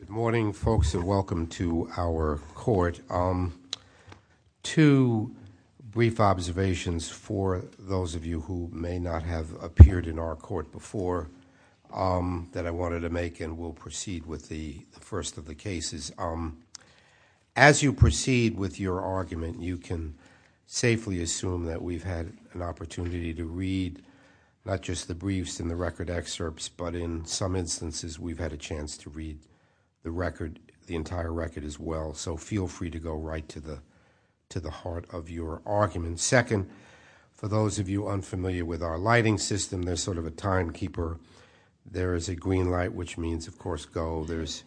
Good morning, folks, and welcome to our court. Two brief observations for those of you who may not have appeared in our court before that I wanted to make, and we'll proceed with the first of the cases. As you proceed with your argument, you can safely assume that we've had an opportunity to read not just the briefs and the record excerpts, but in some instances, we've had a chance to read the record, the entire record as well. So feel free to go right to the heart of your argument. Second, for those of you unfamiliar with our lighting system, there's sort of a timekeeper. There is a green light, which means, of course, go. There's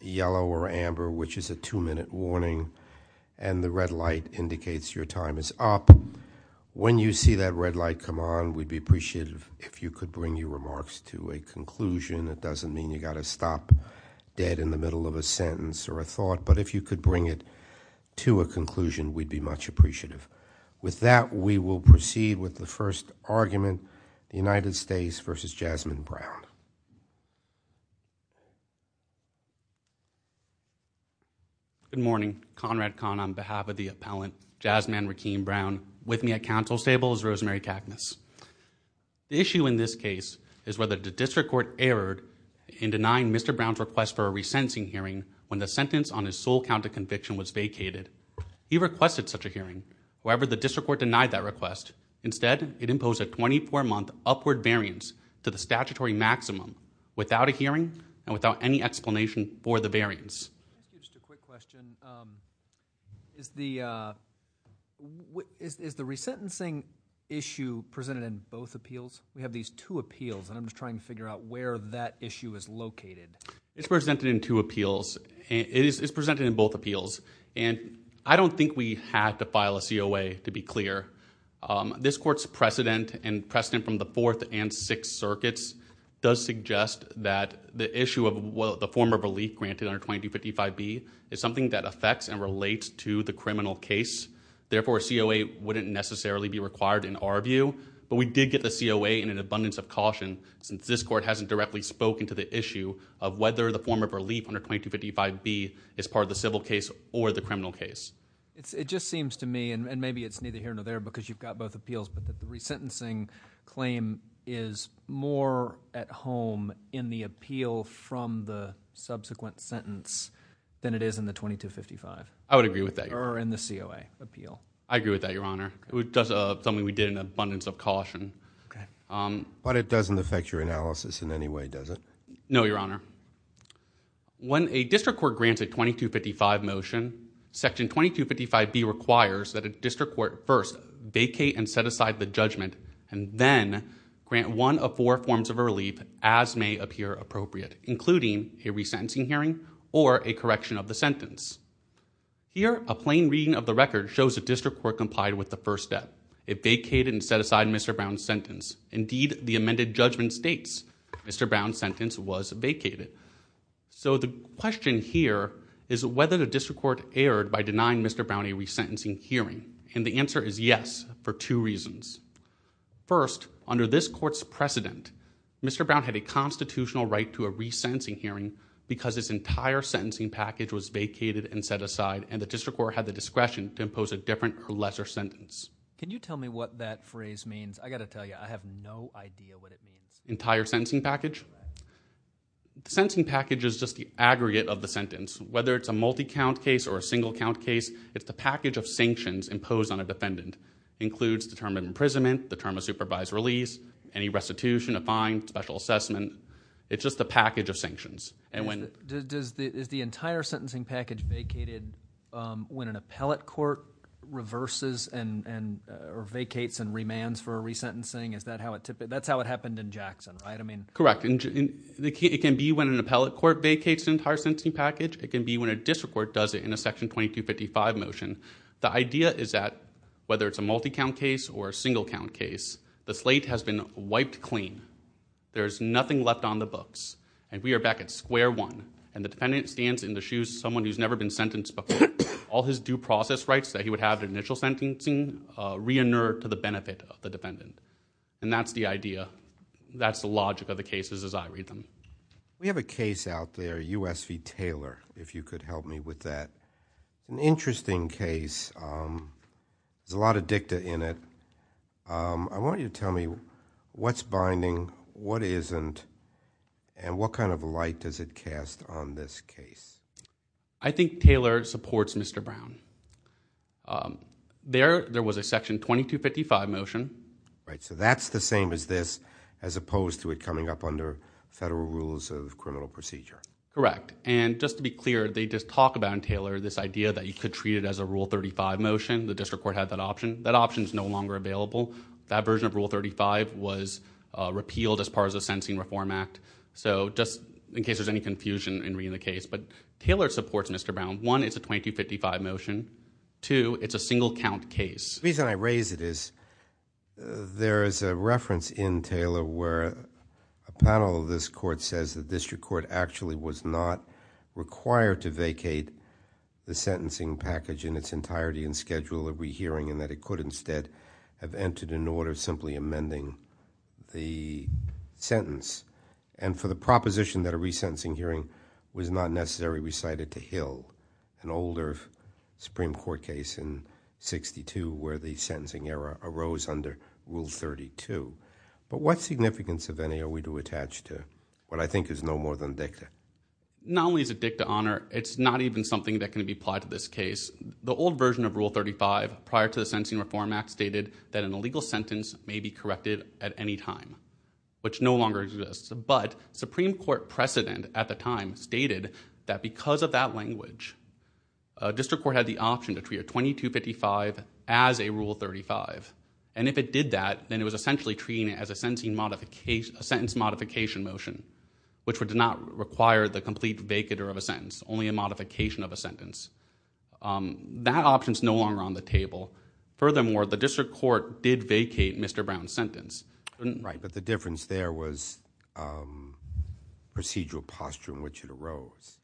yellow or amber, which is a two-minute warning, and the red light indicates your time is up. When you see that red light come on, we'd be appreciative if you could bring your remarks to a conclusion. It doesn't mean you've got to stop dead in the middle of a sentence or a thought, but if you could bring it to a conclusion, we'd be much appreciative. With that, we will proceed with the first argument, United States v. Jasmine Brown. Good morning. Conrad Kahn on behalf of the appellant, Jasmine Rakeem Brown. With me at counsel's table is Rosemary Cacmus. The issue in this case is whether the district court erred in denying Mr. Brown's request for a resentencing hearing when the sentence on his sole count of conviction was vacated. He requested such a hearing. However, the district court denied that request. Instead, it imposed a 24-month upward variance to the statutory maximum without a hearing and without any explanation for the variance. Just a quick question. Is the resentencing issue presented in both appeals? We have these two appeals, and I'm just trying to figure out where that issue is located. It's presented in two appeals. It's presented in both appeals, and I don't think we had to file a COA to be clear. This court's precedent and precedent from the Fourth and Sixth Circuits does suggest that the issue of the form of relief granted under 2255B is something that affects and relates to the criminal case. Therefore, a COA wouldn't necessarily be required in our view, but we did get the COA in an abundance of caution since this court hasn't directly spoken to the issue of whether the form of relief under 2255B is part of the civil case or the criminal case. It just seems to me, and maybe it's neither here nor there because you've got both appeals, but the resentencing claim is more at home in the appeal from the subsequent sentence than it is in the 2255 or in the COA appeal. I agree with that, Your Honor. It was something we did in an abundance of caution. It doesn't affect your analysis in any way, does it? No, Your Honor. When a district court grants a 2255 motion, Section 2255B requires that a district court first vacate and set aside the judgment and then grant one of four forms of relief as may appear appropriate, including a resentencing hearing or a correction of the sentence. Here, a plain reading of the record shows a district court complied with the first step. It vacated and set aside Mr. Brown's sentence. Indeed, the amended judgment states Mr. Brown's sentence was vacated. The question here is whether the district court erred by denying Mr. Brown a resentencing hearing. The answer is yes, for two reasons. First, under this court's precedent, Mr. Brown had a constitutional right to a resentencing hearing because his entire sentencing package was vacated and set aside and the district court had the discretion to impose a different or lesser sentence. Can you tell me what that phrase means? I've got to tell you, I have no idea what it means. Entire sentencing package? The sentencing package is just the aggregate of the sentence. Whether it's a multi-count case or a single-count case, it's the package of sanctions imposed on a defendant. It includes the term of imprisonment, the term of supervised release, any restitution, a fine, special assessment. It's just a package of sanctions. Is the entire sentencing package vacated when an appellate court reverses or vacates and remands for a resentencing? That's how it happened in Jackson, right? Correct. It can be when an appellate court vacates an entire sentencing package. It can be when a district court does it in a section 2255 motion. The idea is that whether it's a multi-count case or a single-count case, the slate has been wiped clean. There's nothing left on the books. We are back at square one, and the defendant stands in the shoes of someone who's never been sentenced before. All his due process rights that he would have in initial sentencing re-inert to the benefit of the defendant. That's the idea. That's the logic of the cases as I read them. We have a case out there, US v. Taylor, if you could help me with that. An interesting case. There's a lot of dicta in it. I want you to tell me what's binding, what isn't, and what kind of light does it cast on this case? I think Taylor supports Mr. Brown. There was a section 2255 motion. That's the same as this, as opposed to it coming up under federal rules of criminal procedure. Correct. Just to be clear, they just talk about in Taylor this idea that you could treat it as a Rule 35 motion. The district court had that option. That option is no longer available. That version of Rule 35 was repealed as part of the Sentencing Reform Act. Just in case there's any confusion in reading the case. Taylor supports Mr. Brown. One, it's a 2255 motion. Two, it's a single-count case. The reason I raise it is there is a reference in Taylor where a panel of this court says the district court actually was not required to vacate the sentencing package in its entirety and schedule a rehearing and that it could instead have entered an order simply amending the sentence. For the proposition that a resentencing hearing was not necessary, we cited to Hill, an older Supreme Court case in 1962 where the sentencing error arose under Rule 32. What significance of any are we to attach to what I think is no more than dicta? Not only is it dicta honor, it's not even something that can be applied to this case. The old version of Rule 35 prior to the Sentencing Reform Act stated that an illegal sentence may be corrected at any time, which no longer exists. Supreme Court precedent at the time stated that because of that language, a district court had the option to treat a 2255 as a sentencing modification, a sentence modification motion, which would not require the complete vacater of a sentence, only a modification of a sentence. That option is no longer on the table. Furthermore, the district court did vacate Mr. Brown's sentence. The difference there was procedural posture in which it arose.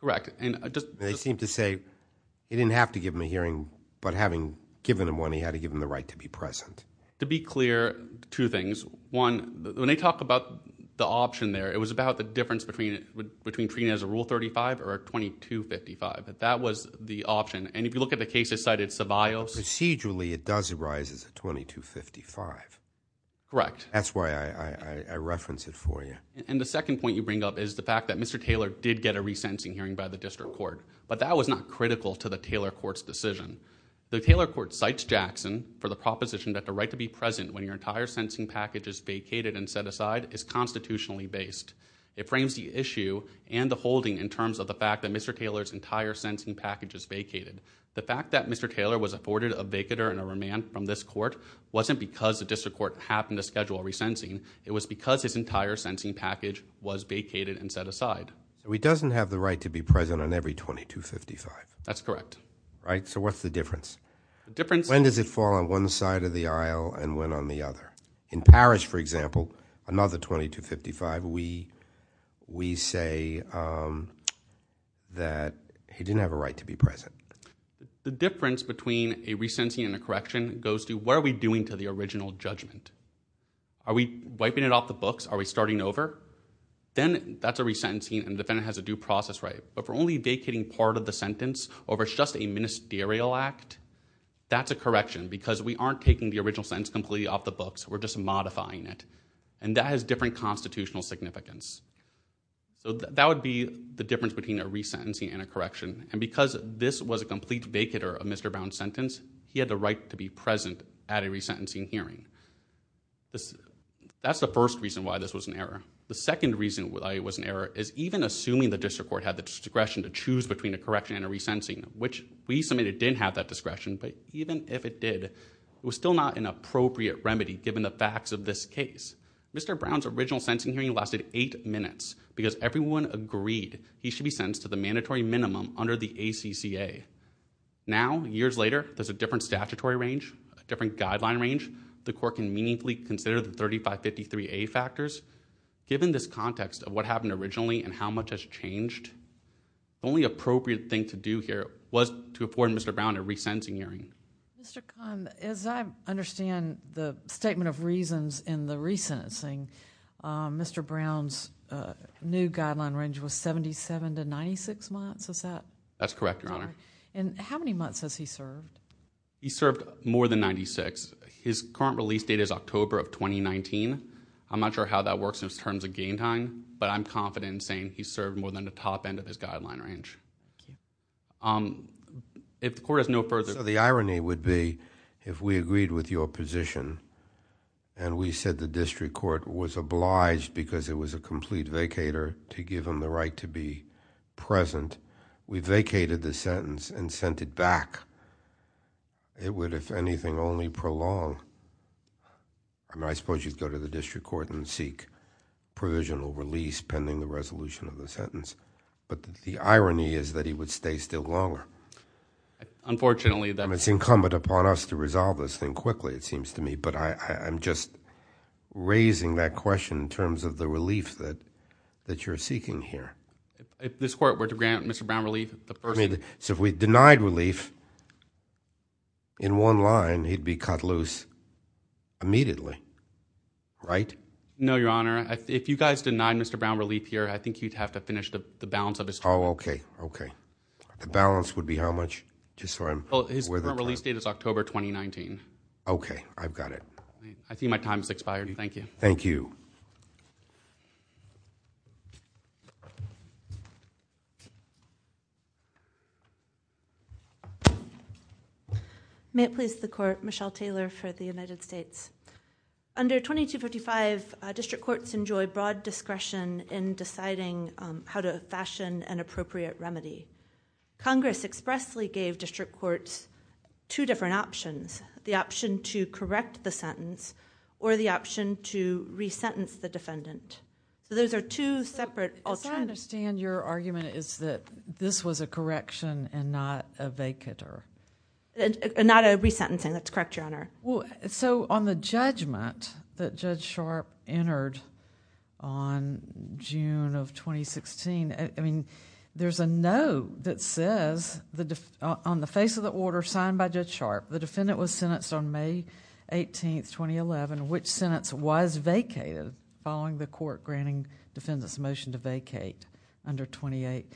Correct. They seem to say you didn't have to give him a hearing, but having given him one, he had to give him the right to be present. To be clear, two things. One, when they talk about the option there, it was about the difference between treating it as a Rule 35 or a 2255. That was the option. If you look at the cases cited at Savaios... Procedurally, it does arise as a 2255. Correct. That's why I reference it for you. The second point you bring up is the fact that Mr. Taylor did get a resentencing hearing by the district court, but that was not critical to the Taylor court's decision. The Taylor court cites Jackson for the proposition that the right to be present when your entire sentencing package is vacated and set aside is constitutionally based. It frames the issue and the holding in terms of the fact that Mr. Taylor's entire sentencing package is vacated. The fact that Mr. Taylor was afforded a vacater and a remand from this court wasn't because the district court happened to schedule a resentencing. It was because his entire sentencing package was vacated and set aside. He doesn't have the right to be present on every 2255. That's correct. What's the difference? The difference... When does it fall on one side of the aisle and when on the other? In Parrish, for example, another 2255, we say that he didn't have a right to be present. The difference between a resentencing and a correction goes to what are we doing to the original judgment? Are we wiping it off the books? Are we starting over? Then that's a resentencing and the defendant has a due process right. If we're only vacating part of the sentence or if it's just a ministerial act, that's a correction because we aren't taking the original sentence completely off the books. We're just modifying it. That has different constitutional significance. That would be the difference between a resentencing and a correction. Because this was a complete vacater of Mr. Brown's sentence, he had the right to be present at a resentencing hearing. That's the first reason why this was an error. The second reason why it was an error is even assuming the district court had the discretion to choose between a correction and a resentencing, which we submitted didn't have that discretion, but even if it did, it was still not an appropriate remedy given the facts of this case. Mr. Brown's original sentencing hearing lasted eight minutes because everyone agreed he should be sentenced to the mandatory minimum under the ACCA. Now, years later, there's a different statutory range, a different guideline range. The court can meaningfully consider the 3553A factors. Given this context of what happened originally and how much has changed, the only appropriate thing to do here was to afford Mr. Brown a resentencing hearing. Mr. Khan, as I understand the statement of reasons in the resentencing, Mr. Brown's new guideline range was 77 to 96 months, is that? That's correct, Your Honor. How many months has he served? He served more than 96. His current release date is October of 2019. I'm not sure how that works in terms of gain time, but I'm confident in saying he served more than the top end of his guideline range. If the court has no further... The irony would be if we agreed with your position and we said the district court was obliged because it was a complete vacator to give him the right to be present, we vacated the sentence and sent it back. It would, if anything, only prolong. I suppose you'd go to the district court and seek provisional release pending the resolution of the sentence. The irony is that he would stay still longer. Unfortunately, that... It's incumbent upon us to resolve this thing quickly, it seems to me, but I'm just raising that question in terms of the relief that you're seeking here. This court were to grant Mr. Brown relief, the person... If we denied relief in one line, he'd be cut loose immediately. No, Your Honor. If you guys denied Mr. Brown relief here, I think you'd have to finish the balance of his... Oh, okay. The balance would be how much, just so I'm aware of the time? His current release date is October 2019. Okay, I've got it. I think my time has expired. Thank you. Thank you. May it please the Court, Michelle Taylor for the United States. Under 2255, district courts enjoy broad discretion in deciding how to fashion an appropriate remedy. Congress expressly gave district courts two different options, the option to correct the sentence or the defendant. Those are two separate alternatives. As I understand, your argument is that this was a correction and not a vacater. Not a resentencing, that's correct, Your Honor. On the judgment that Judge Sharp entered on June of 2016, there's a note that says, on the face of the order signed by Judge Sharp, the defendant was sentenced on May 18th, 2011, which sentence was vacated following the court granting the defendant's motion to vacate under United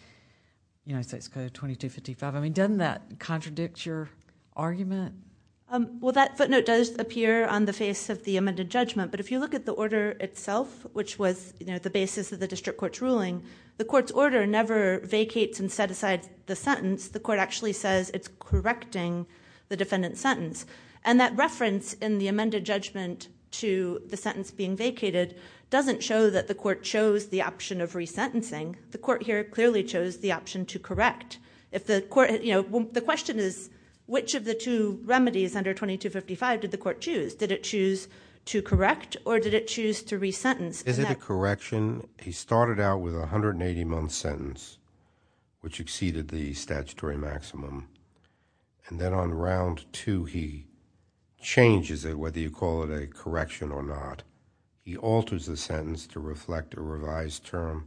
States Code 2255. Doesn't that contradict your argument? That footnote does appear on the face of the amended judgment, but if you look at the order itself, which was the basis of the district court's ruling, the court's order never vacates and set aside the sentence. The court actually says it's correcting the defendant's sentence. That reference in the amended judgment to the sentence being vacated doesn't show that the court chose the option of resentencing. The court here clearly chose the option to correct. The question is, which of the two remedies under 2255 did the court choose? Did it choose to correct or did it choose to resentence? Is it a correction? He started out with a 180-month sentence, which exceeded the statutory maximum, and then on round two, he changes it, whether you call it a correction or not. He alters the sentence to reflect a revised term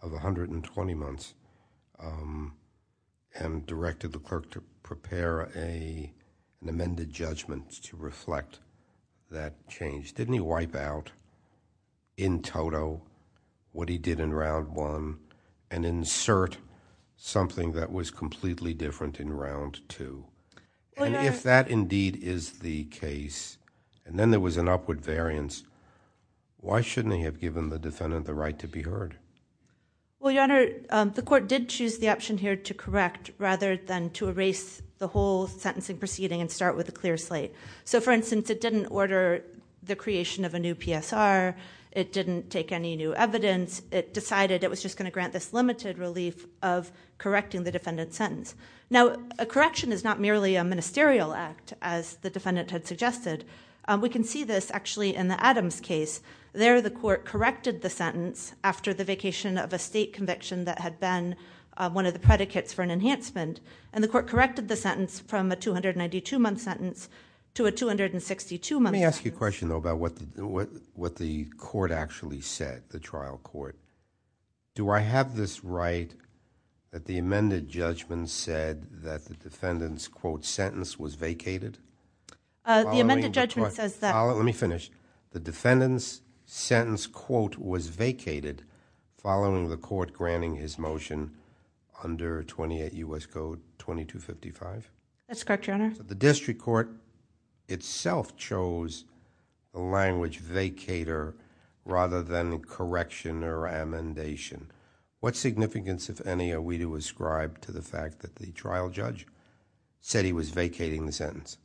of 120 months and directed the clerk to prepare an amended judgment to reflect that change. Didn't he wipe out, in toto, what he did in round one and insert something that was completely different in round two? If that indeed is the case, and then there was an upward variance, why shouldn't he have given the defendant the right to be heard? Your Honor, the court did choose the option here to correct, rather than to erase the whole sentencing proceeding and start with a clear slate. For instance, it didn't order the creation of a new PSR. It didn't take any new evidence. It decided it was just going to grant this limited relief of correcting the defendant's sentence. Now, a correction is not merely a ministerial act, as the defendant had suggested. We can see this, actually, in the Adams case. There, the court corrected the sentence after the vacation of a state conviction that had been one of the predicates for an enhancement. The court corrected the sentence from a 292-month sentence to a 262-month sentence. Let me ask you a question, though, about what the court actually said, the trial court. Do I have this right that the amended judgment said that the defendant's, quote, sentence was vacated? The amended judgment says that... Let me finish. The defendant's sentence, quote, was vacated following the court granting his motion under 28 U.S. Code 2255? That's correct, Your Honor. The district court itself chose the language vacator rather than correction or amendation. What significance, if any, are we to ascribe to the fact that the trial judge said he was vacating the sentence?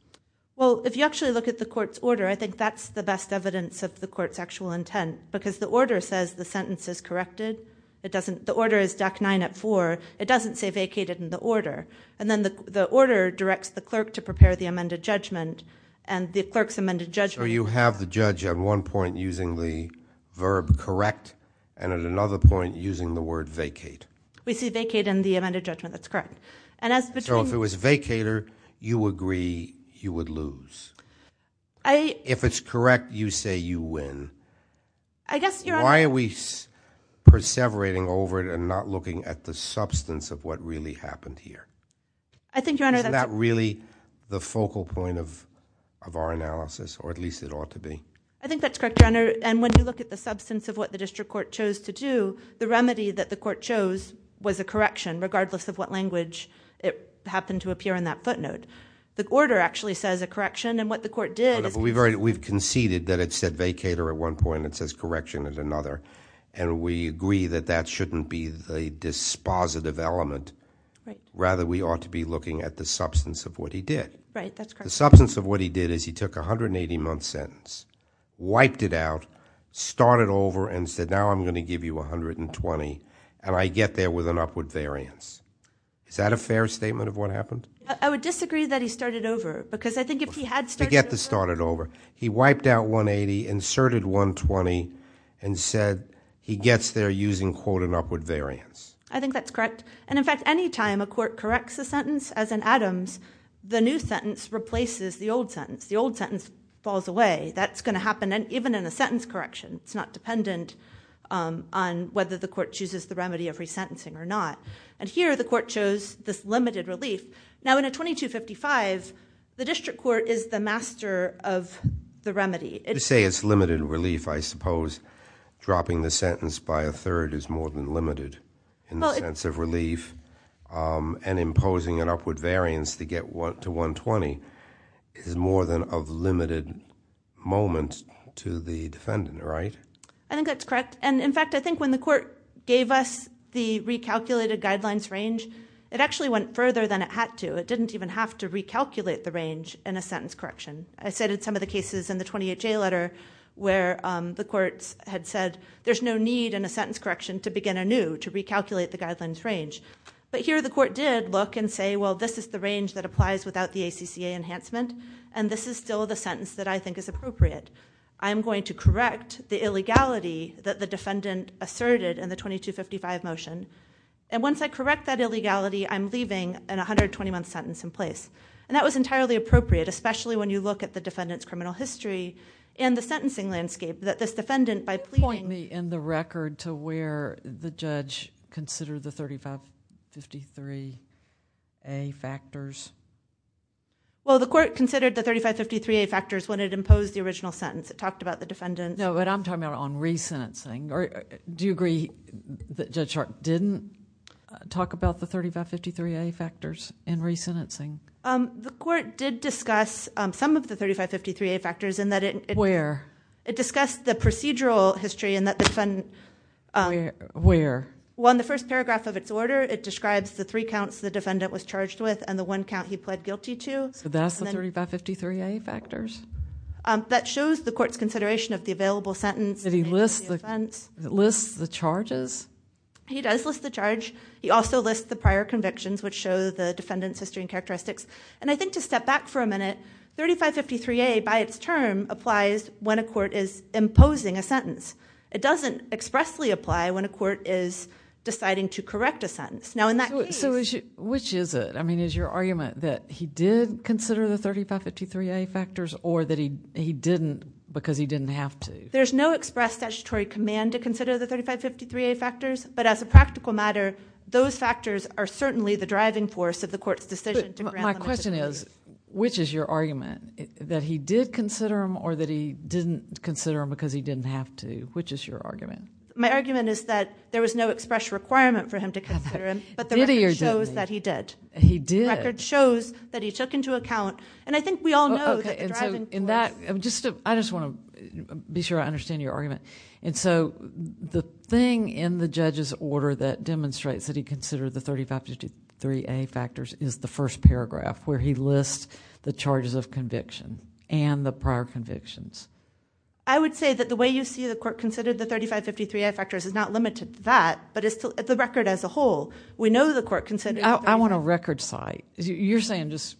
Well, if you actually look at the court's order, I think that's the best evidence of the court's actual intent, because the order says the sentence is corrected. The order is deck nine at four. It doesn't say vacated in the order. Then the order directs the clerk to prepare the amended judgment, and the clerk's amended judgment... So you have the judge at one point using the verb correct and at another point using the word vacate. We see vacate in the amended judgment. That's correct. And as between... So if it was vacator, you agree you would lose. If it's correct, you say you win. I guess, Your Honor... Why are we perseverating over it and not looking at the substance of what really happened here? I think, Your Honor, that's... The focal point of our analysis, or at least it ought to be. I think that's correct, Your Honor. And when you look at the substance of what the district court chose to do, the remedy that the court chose was a correction, regardless of what language it happened to appear in that footnote. The order actually says a correction, and what the court did is... We've conceded that it said vacator at one point and it says correction at another, and we agree that that shouldn't be the dispositive element. Right. Rather, we ought to be looking at the substance of what he did. Right. That's correct. The substance of what he did is he took a 180-month sentence, wiped it out, started over, and said, now I'm going to give you 120, and I get there with an upward variance. Is that a fair statement of what happened? I would disagree that he started over, because I think if he had started over... Forget the started over. He wiped out 180, inserted 120, and said he gets there using quote an upward variance. I think that's correct. In fact, any time a court corrects a sentence, as in Adams, the new sentence replaces the old sentence. The old sentence falls away. That's going to happen even in a sentence correction. It's not dependent on whether the court chooses the remedy of resentencing or not. Here, the court chose this limited relief. Now, in a 2255, the district court is the master of the remedy. To say it's limited relief, I suppose dropping the sentence by a third is more than limited in the sense of relief, and imposing an upward variance to get to 120 is more than a limited moment to the defendant, right? I think that's correct. In fact, I think when the court gave us the recalculated guidelines range, it actually went further than it had to. It didn't even have to recalculate the range in a sentence correction. I cited some of the cases in the 28J letter where the courts had said there's no need in a sentence correction to begin anew, to recalculate the guidelines range. Here, the court did look and say, well, this is the range that applies without the ACCA enhancement, and this is still the sentence that I think is appropriate. I'm going to correct the illegality that the defendant asserted in the 2255 motion. Once I correct that illegality, I'm leaving an 120-month sentence in place. That was entirely appropriate, especially when you look at the defendant's criminal history and the sentencing landscape that this defendant, by pleading... Point me in the record to where the judge considered the 3553A factors. Well, the court considered the 3553A factors when it imposed the original sentence. It talked about the defendant... No, but I'm talking about on re-sentencing. Do you agree that Judge Sharp didn't talk about the 3553A factors in re-sentencing? The court did discuss some of the 3553A factors in that it... Where? It discussed the procedural history in that the defendant... Where? Well, in the first paragraph of its order, it describes the three counts the defendant was charged with and the one count he pled guilty to. So, that's the 3553A factors? That shows the court's consideration of the available sentence... Did he list the charges? He does list the charge. He also lists the prior convictions, which show the defendant's history and characteristics. I think, to step back for a minute, 3553A, by its term, applies when a court is imposing a sentence. It doesn't expressly apply when a court is deciding to correct a sentence. Now, in that case... Which is it? I mean, is your argument that he did consider the 3553A factors or that he didn't because he didn't have to? There's no express statutory command to consider the 3553A factors, but as a practical matter, those factors are certainly the driving force of the court's decision to grant... He didn't consider them because he didn't have to. Which is your argument? My argument is that there was no express requirement for him to consider them, but the record shows Did he or didn't he? He did. The record shows that he took into account, and I think we all know that the driving force... I just want to be sure I understand your argument. The thing in the judge's order that demonstrates that he considered the 3553A factors is the first paragraph, where he lists the charges of conviction and the prior convictions. I would say that the way you see the court considered the 3553A factors is not limited to that, but it's the record as a whole. We know the court considered... I want a record cite. You're saying just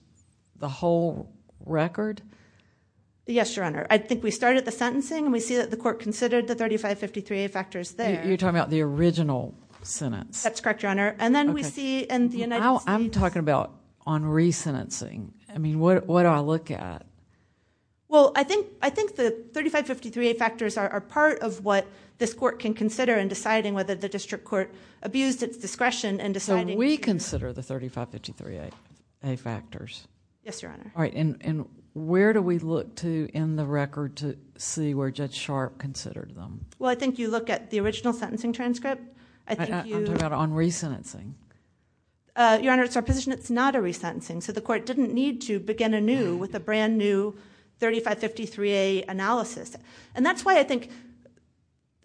the whole record? Yes, Your Honor. I think we start at the sentencing, and we see that the court considered the 3553A factors there. You're talking about the original sentence? I'm talking about on re-sentencing. What do I look at? I think the 3553A factors are part of what this court can consider in deciding whether the district court abused its discretion in deciding... We consider the 3553A factors. Yes, Your Honor. Where do we look to in the record to see where Judge Sharp considered them? I think you look at the original sentencing transcript. I'm talking about on re-sentencing. Your Honor, it's our position it's not a re-sentencing, so the court didn't need to begin anew with a brand new 3553A analysis. That's why I think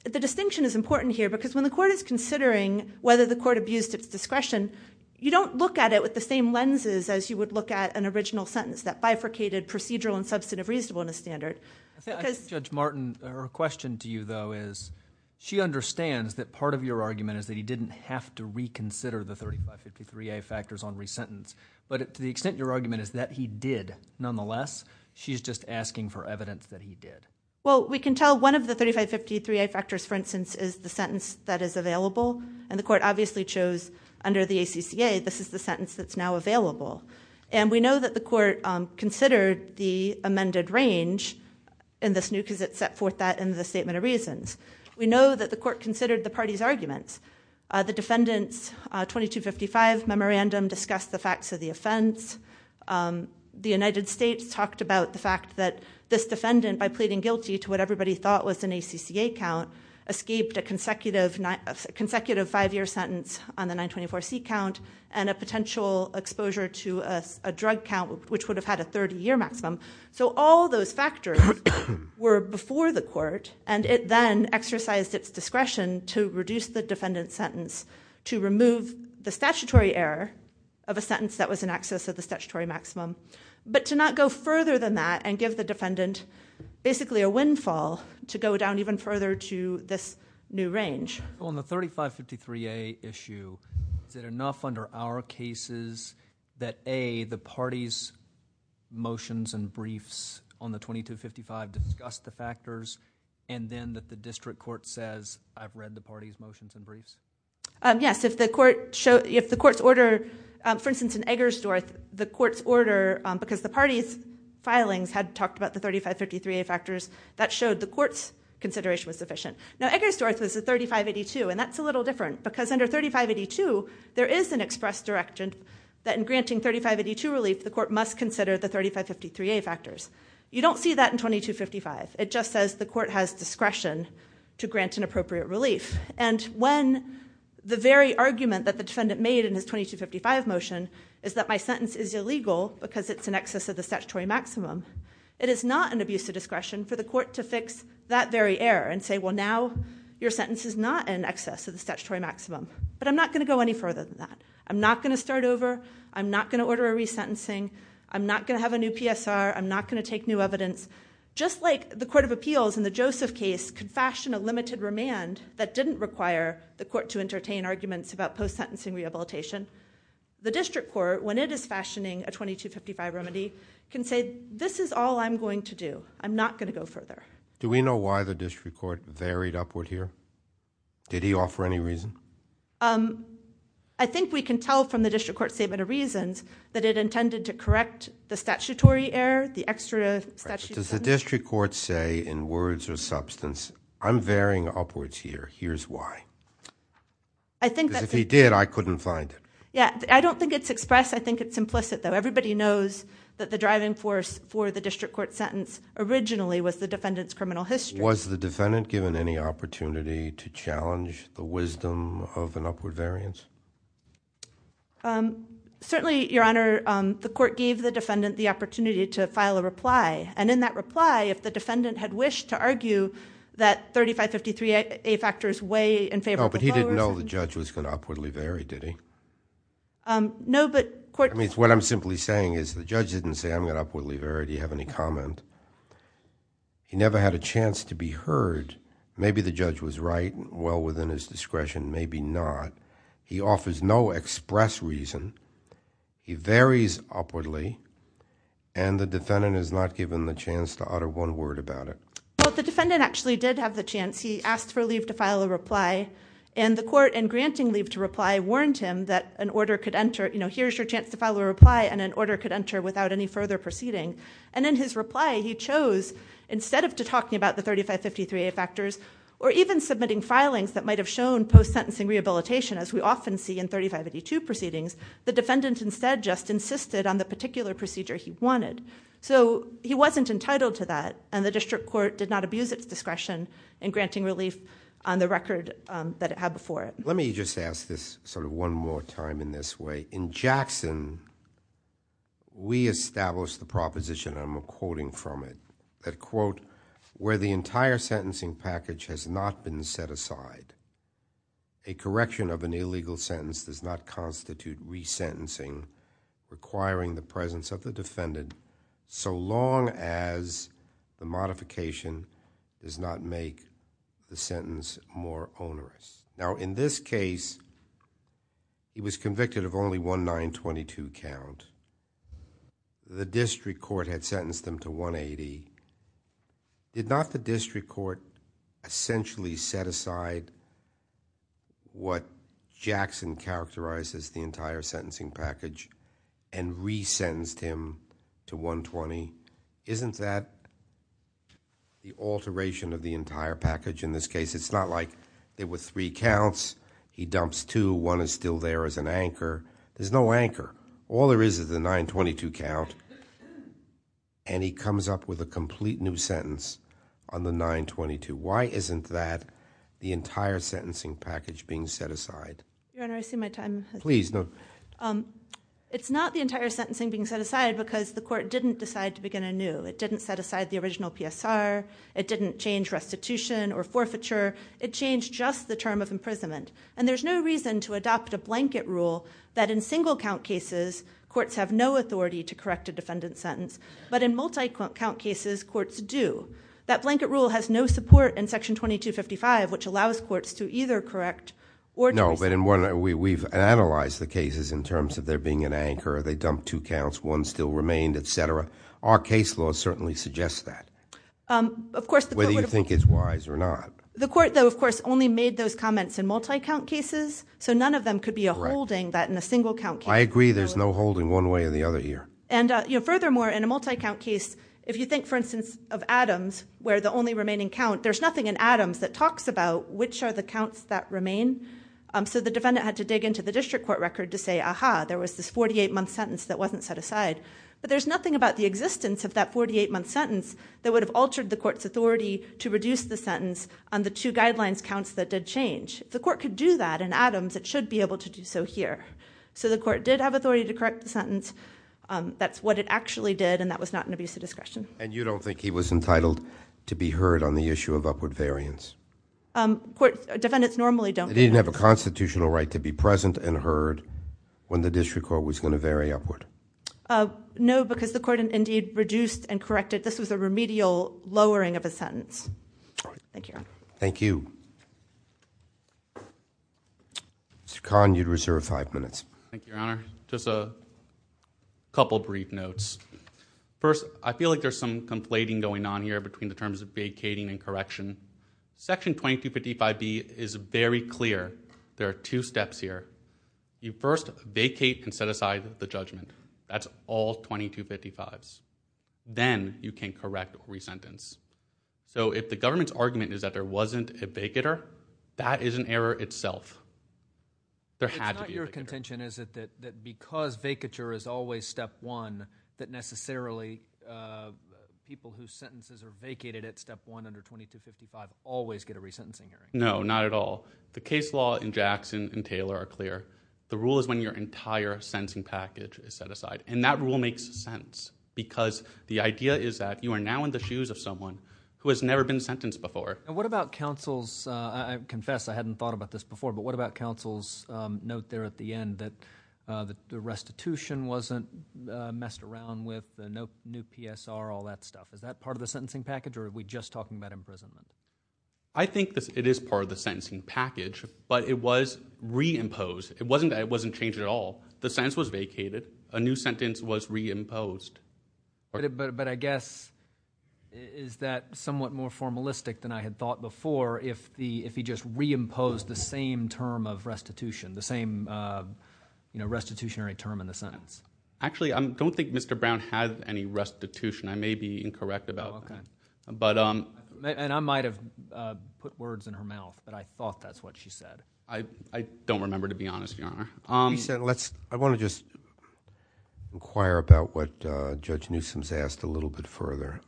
the distinction is important here, because when the court is considering whether the court abused its discretion, you don't look at it with the same lenses as you would look at an original sentence, that bifurcated procedural and substantive reasonableness standard. Judge Martin, her question to you, though, is she understands that part of your argument is that he didn't have to reconsider the 3553A factors on re-sentence, but to the extent your argument is that he did, nonetheless, she's just asking for evidence that he did. Well, we can tell one of the 3553A factors, for instance, is the sentence that is available. The court obviously chose under the ACCA, this is the sentence that's now available. We know that the court considered the amended range in this new, because it set forth that in the Statement of Reasons. We know that the court considered the parties' arguments. The defendant's 2255 memorandum discussed the facts of the offense. The United States talked about the fact that this defendant, by pleading guilty to what everybody thought was an ACCA count, escaped a consecutive five-year sentence on the 924C count and a potential exposure to a drug count which would have had a 30-year maximum. All those factors were before the court, and it then exercised its discretion to reduce the defendant's sentence, to remove the statutory error of a sentence that was in excess of the statutory maximum, but to not go further than that and give the defendant, basically, a windfall to go down even further to this new range. On the 3553A issue, is it enough under our cases that A, the parties' motions and briefs on the 2255 discuss the factors, and then that the district court says, I've read the parties' motions and briefs? Yes. If the court's order, for instance, in Eggersdorf, the court's order, because the parties' filings had talked about the 3553A factors, that showed the court's consideration was sufficient. Now, Eggersdorf was a 3582, and that's a little different, because under 3582, there is an express direction that in granting 3582 relief, the court must consider the 3553A factors. You don't see that in 2255. It just says the court has discretion to grant an appropriate relief. And when the very argument that the defendant made in his 2255 motion is that my sentence is illegal because it's in excess of the statutory maximum, it is not an abuse of discretion for the court to fix that very error and say, well, now your sentence is not in excess of the statutory maximum. But I'm not going to go any further than that. I'm not going to start over. I'm not going to order a resentencing. I'm not going to have a new PSR. I'm not going to take new evidence. Just like the Court of Appeals in the Joseph case could fashion a limited remand that didn't require the court to entertain arguments about post-sentencing rehabilitation, the district court, when it is fashioning a 2255 remedy, can say, this is all I'm going to do. I'm not going to go further. Do we know why the district court varied upward here? Did he offer any reason? I think we can tell from the district court's statement of reasons that it intended to correct the statutory error, the extra statutory sentence. Right. But does the district court say in words or substance, I'm varying upwards here. Here's why. I think that's... Because if he did, I couldn't find it. Yeah. I don't think it's expressed. I think it's implicit, though. Everybody knows that the driving force for the district court sentence originally was the defendant's criminal history. Was the defendant given any opportunity to challenge the wisdom of an upward variance? Certainly, Your Honor, the court gave the defendant the opportunity to file a reply. In that reply, if the defendant had wished to argue that 3553A factor is way in favor of the powers... No, but he didn't know the judge was going to upwardly vary, did he? No, but court... I mean, what I'm simply saying is the judge didn't say, I'm going to upwardly vary. Do you have any comment? He never had a chance to be heard. Maybe the judge was right, well within his discretion, maybe not. He offers no express reason. He varies upwardly, and the defendant is not given the chance to utter one word about it. Well, the defendant actually did have the chance. He asked for leave to file a reply, and the court in granting leave to reply warned him that an order could enter, you know, here's your chance to file a reply, and an order could enter without any further proceeding. In his reply, he chose, instead of talking about the 3553A factors, or even submitting filings that might have shown post-sentencing rehabilitation, as we often see in 3582 proceedings, the defendant instead just insisted on the particular procedure he wanted. He wasn't entitled to that, and the district court did not abuse its discretion in granting relief on the record that it had before it. Let me just ask this sort of one more time in this way. In Jackson, we established the proposition, and I'm quoting from it, that, quote, where the entire sentencing package has not been set aside, a correction of an illegal sentence does not constitute resentencing requiring the presence of the defendant so long as the modification does not make the defendant guilty. In this case, he was convicted of only one 922 count. The district court had sentenced him to 180. Did not the district court essentially set aside what Jackson characterized as the entire sentencing package, and resentenced him to 120? Isn't that the alteration of the He dumps two. One is still there as an anchor. There's no anchor. All there is is the 922 count, and he comes up with a complete new sentence on the 922. Why isn't that the entire sentencing package being set aside? Your Honor, I see my time has run out. It's not the entire sentencing being set aside because the court didn't decide to begin anew. It didn't set aside the original PSR. It didn't change restitution or forfeiture. It changed just the term of imprisonment. There's no reason to adopt a blanket rule that in single count cases, courts have no authority to correct a defendant's sentence, but in multi-count cases, courts do. That blanket rule has no support in Section 2255, which allows courts to either correct or No, but we've analyzed the cases in terms of there being an anchor. They dumped two counts. One still remained, etc. Our case law certainly suggests that, whether you think it's wise or not. The court, though, of course, only made those comments in multi-count cases, so none of them could be a holding that in a single count case. I agree. There's no holding one way or the other here. And furthermore, in a multi-count case, if you think, for instance, of Adams, where the only remaining count, there's nothing in Adams that talks about which are the counts that remain, so the defendant had to dig into the district court record to say, aha, there was this 48-month sentence that wasn't set aside. But there's nothing about the existence of that 48-month sentence that would have altered the court's authority to reduce the sentence on the two guidelines counts that did change. If the court could do that in Adams, it should be able to do so here. So the court did have authority to correct the sentence. That's what it actually did, and that was not an abuse of discretion. And you don't think he was entitled to be heard on the issue of upward variance? Defendants normally don't. Did he have a constitutional right to be present and heard when the district court was going to vary upward? No, because the court indeed reduced and corrected. This was a remedial lowering of a sentence. Thank you, Your Honor. Thank you. Mr. Kahn, you'd reserve five minutes. Thank you, Your Honor. Just a couple brief notes. First, I feel like there's some conflating going on here between the terms of vacating and correction. Section 2255B is very clear. There are two steps here. You first vacate and set aside the judgment. That's all 2255s. Then you can correct or resentence. So if the government's argument is that there wasn't a vacater, that is an error itself. There had to be a vacater. It's not your contention, is it, that because vacature is always step one, that necessarily people whose sentences are vacated at step one under 2255 always get a resentencing hearing? No, not at all. The case law in Jackson and Taylor are clear. The rule is when your entire sentencing package is set aside, and that rule makes sense, because the idea is that you are now in the shoes of someone who has never been sentenced before. What about counsel's—I confess I hadn't thought about this before—but what about counsel's note there at the end that the restitution wasn't messed around with, no new PSR, all that stuff? Is that part of the sentencing package, or are we just talking about imprisonment? I think it is part of the sentencing package, but it was reimposed. It wasn't changed at all. The sentence was vacated. A new sentence was reimposed. But I guess, is that somewhat more formalistic than I had thought before, if he just reimposed the same term of restitution, the same restitutionary term in the sentence? Actually, I don't think Mr. Brown had any restitution. I may be incorrect about that. And I might have put words in her mouth, but I thought that's what she said. I don't remember, to be honest, Your Honor. I want to just inquire about what Judge Newsom's asked a little bit further.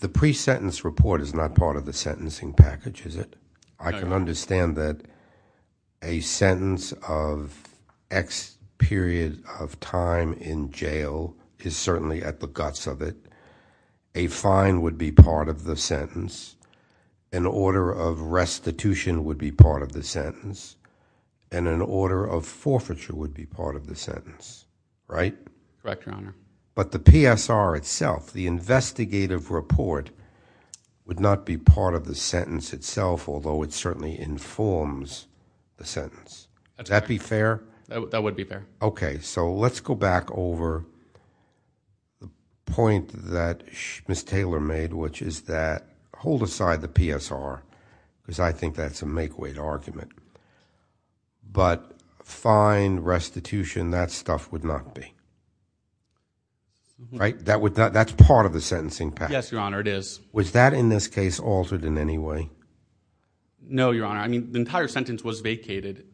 The pre-sentence report is not part of the sentencing package, is it? I can understand that a sentence of X period of time in jail is certainly at the guts of it. A fine would be part of the sentence. An order of restitution would be part of the sentence. And an order of forfeiture would be part of the sentence, right? Correct, Your Honor. But the PSR itself, the investigative report, would not be part of the sentence itself, although it certainly informs the sentence. Would that be fair? That would be fair. Okay, so let's go back over the point that Ms. Taylor made, which is that, hold aside the PSR, because I think that's a make-weight argument, but fine, restitution, that stuff would not be, right? That's part of the sentencing package. Yes, Your Honor, it is. Was that, in this case, altered in any way? No, Your Honor. I mean, the entire sentence was vacated.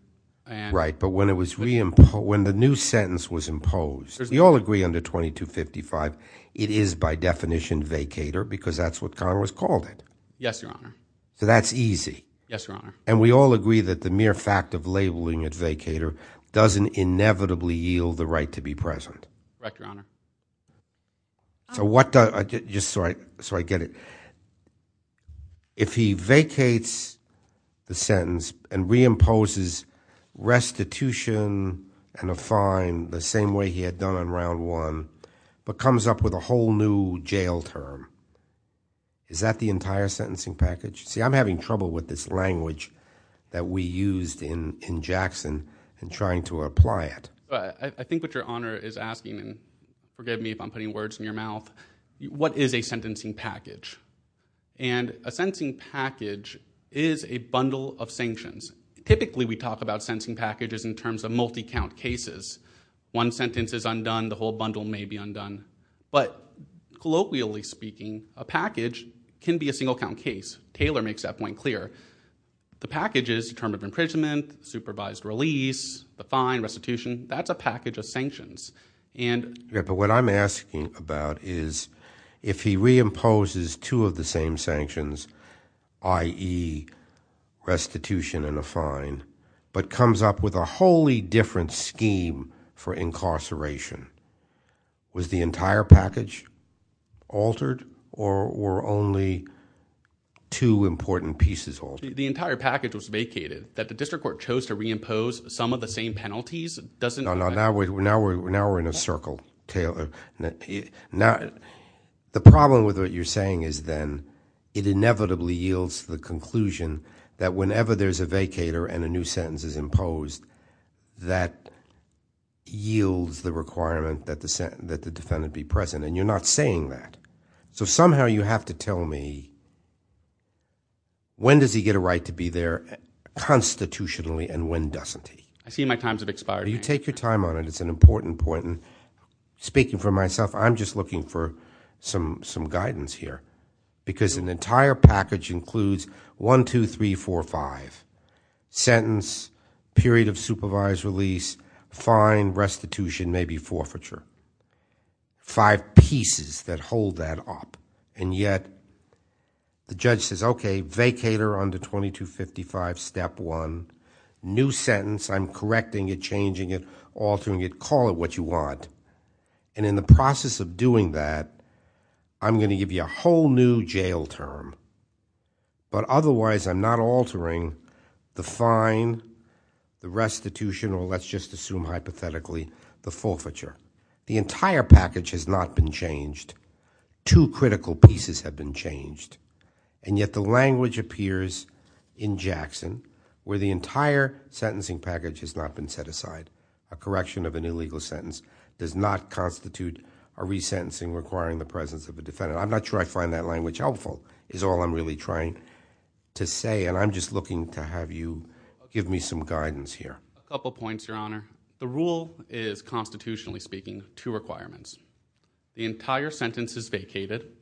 Right, but when it was re-imposed, when the new sentence was imposed, we all agree under 2255, it is by definition vacator, because that's what Congress called it. Yes, Your Honor. So that's easy. Yes, Your Honor. And we all agree that the mere fact of labeling it vacator doesn't inevitably yield the right to be present. Correct, Your Honor. So what does, just so I get it, if he vacates the sentence and re-imposes restitution and a fine the same way he had done in round one, but comes up with a whole new jail term, is that the entire sentencing package? See, I'm having trouble with this language that we used in Jackson in trying to apply it. I think what Your Honor is asking, and forgive me if I'm putting words in your mouth, what is a sentencing package? And a sentencing package is a bundle of sanctions. Typically, we talk about sentencing packages in terms of multi-count cases. One sentence is undone, the whole bundle may be undone. But colloquially speaking, a package can be a single-count case. Taylor makes that point clear. The package is the term of imprisonment, that's a package of sanctions. Yeah, but what I'm asking about is, if he re-imposes two of the same sanctions, i.e. restitution and a fine, but comes up with a wholly different scheme for incarceration, was the entire package altered, or were only two important pieces altered? The entire package was vacated. That the district court chose to re-impose some of the same penalties doesn't... Now we're in a circle, Taylor. The problem with what you're saying is then, it inevitably yields the conclusion that whenever there's a vacator and a new sentence is imposed, that yields the requirement that the defendant be present. And you're not saying that. So somehow you have to tell me, when does he get a right to be there constitutionally, and when doesn't he? I see my times have expired. You take your time on it, it's an important point. Speaking for myself, I'm just looking for some guidance here. Because an entire package includes, one, two, three, four, five. Sentence, period of supervised release, fine, restitution, maybe forfeiture. Five pieces that hold that up. And yet, the judge says, okay, vacator under 2255, step one. New sentence, I'm correcting it, changing it, altering it, call it what you want. And in the process of doing that, I'm going to give you a whole new jail term. But otherwise, I'm not altering the fine, the restitution, or let's just assume hypothetically, the forfeiture. The entire package has not been changed. Two critical pieces have been changed. And yet the language appears in Jackson, where the entire sentencing package has not been set aside. A correction of an illegal sentence does not constitute a resentencing requiring the presence of a defendant. I'm not sure I find that language helpful, is all I'm really trying to say. And I'm just looking to have you give me some guidance here. A couple points, Your Honor. The rule is, constitutionally speaking, two requirements. The entire sentence is vacated.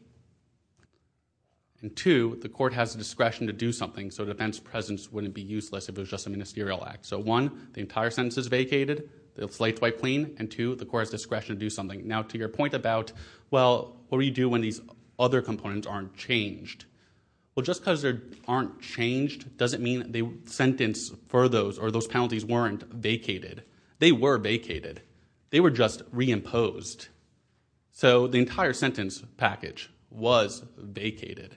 And two, the court has the discretion to do something, so defense presence wouldn't be useless if it was just a ministerial act. So, one, the entire sentence is vacated, it's light, white, clean. And two, the court has the discretion to do something. Now, to your point about, well, what do you do when these other components aren't changed? Well, just because they aren't changed doesn't mean the sentence for those, or those penalties weren't vacated. They were vacated. They were just reimposed. So, the entire sentence package was vacated.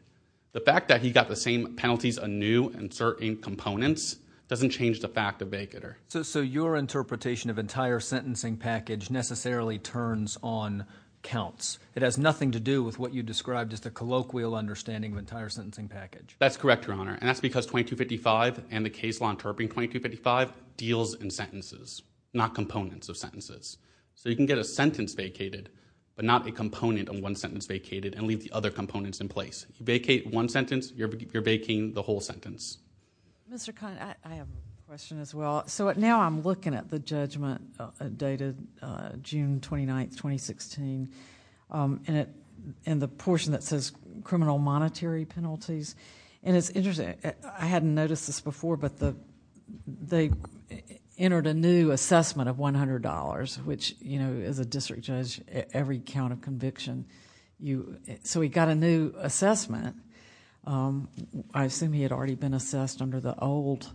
The fact that he got the same penalties anew in certain components doesn't change the fact of vacater. So, your interpretation of entire sentencing package necessarily turns on counts. It has nothing to do with what you described as the colloquial understanding of entire sentencing package. That's correct, Your Honor. And that's because 2255 and the case law interpreting 2255 deals in sentences, not components of sentences. So, you can get a sentence vacated but not a component on one sentence vacated and leave the other components in place. You vacate one sentence, you're vacating the whole sentence. Mr. Conn, I have a question as well. So, now I'm looking at the judgment dated June 29, 2016 and the portion that says criminal monetary penalties. And it's interesting, I hadn't noticed this before, but they entered a new assessment of $100 which, you know, as a district judge every count of conviction, so he got a new assessment. I assume he had already been assessed under the old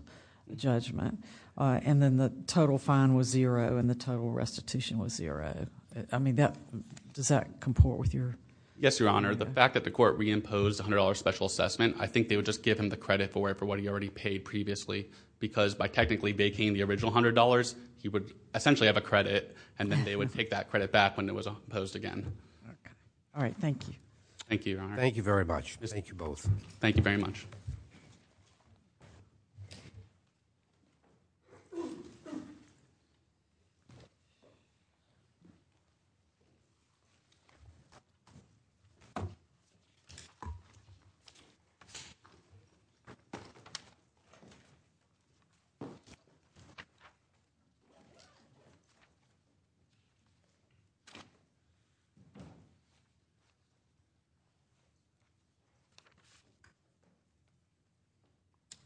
judgment and then the total fine was zero and the total restitution was zero. I mean, does that comport with your? Yes, Your Honor. The fact that the court reimposed $100 special assessment, I think they would just give him the credit for it for what he already paid previously because by technically vacating the original $100 he would essentially have a credit and then they would take that credit back when it was imposed again. All right. Thank you. Thank you, Your Honor. Thank you very much. Thank you both. Thank you very much.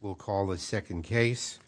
We'll call the second case.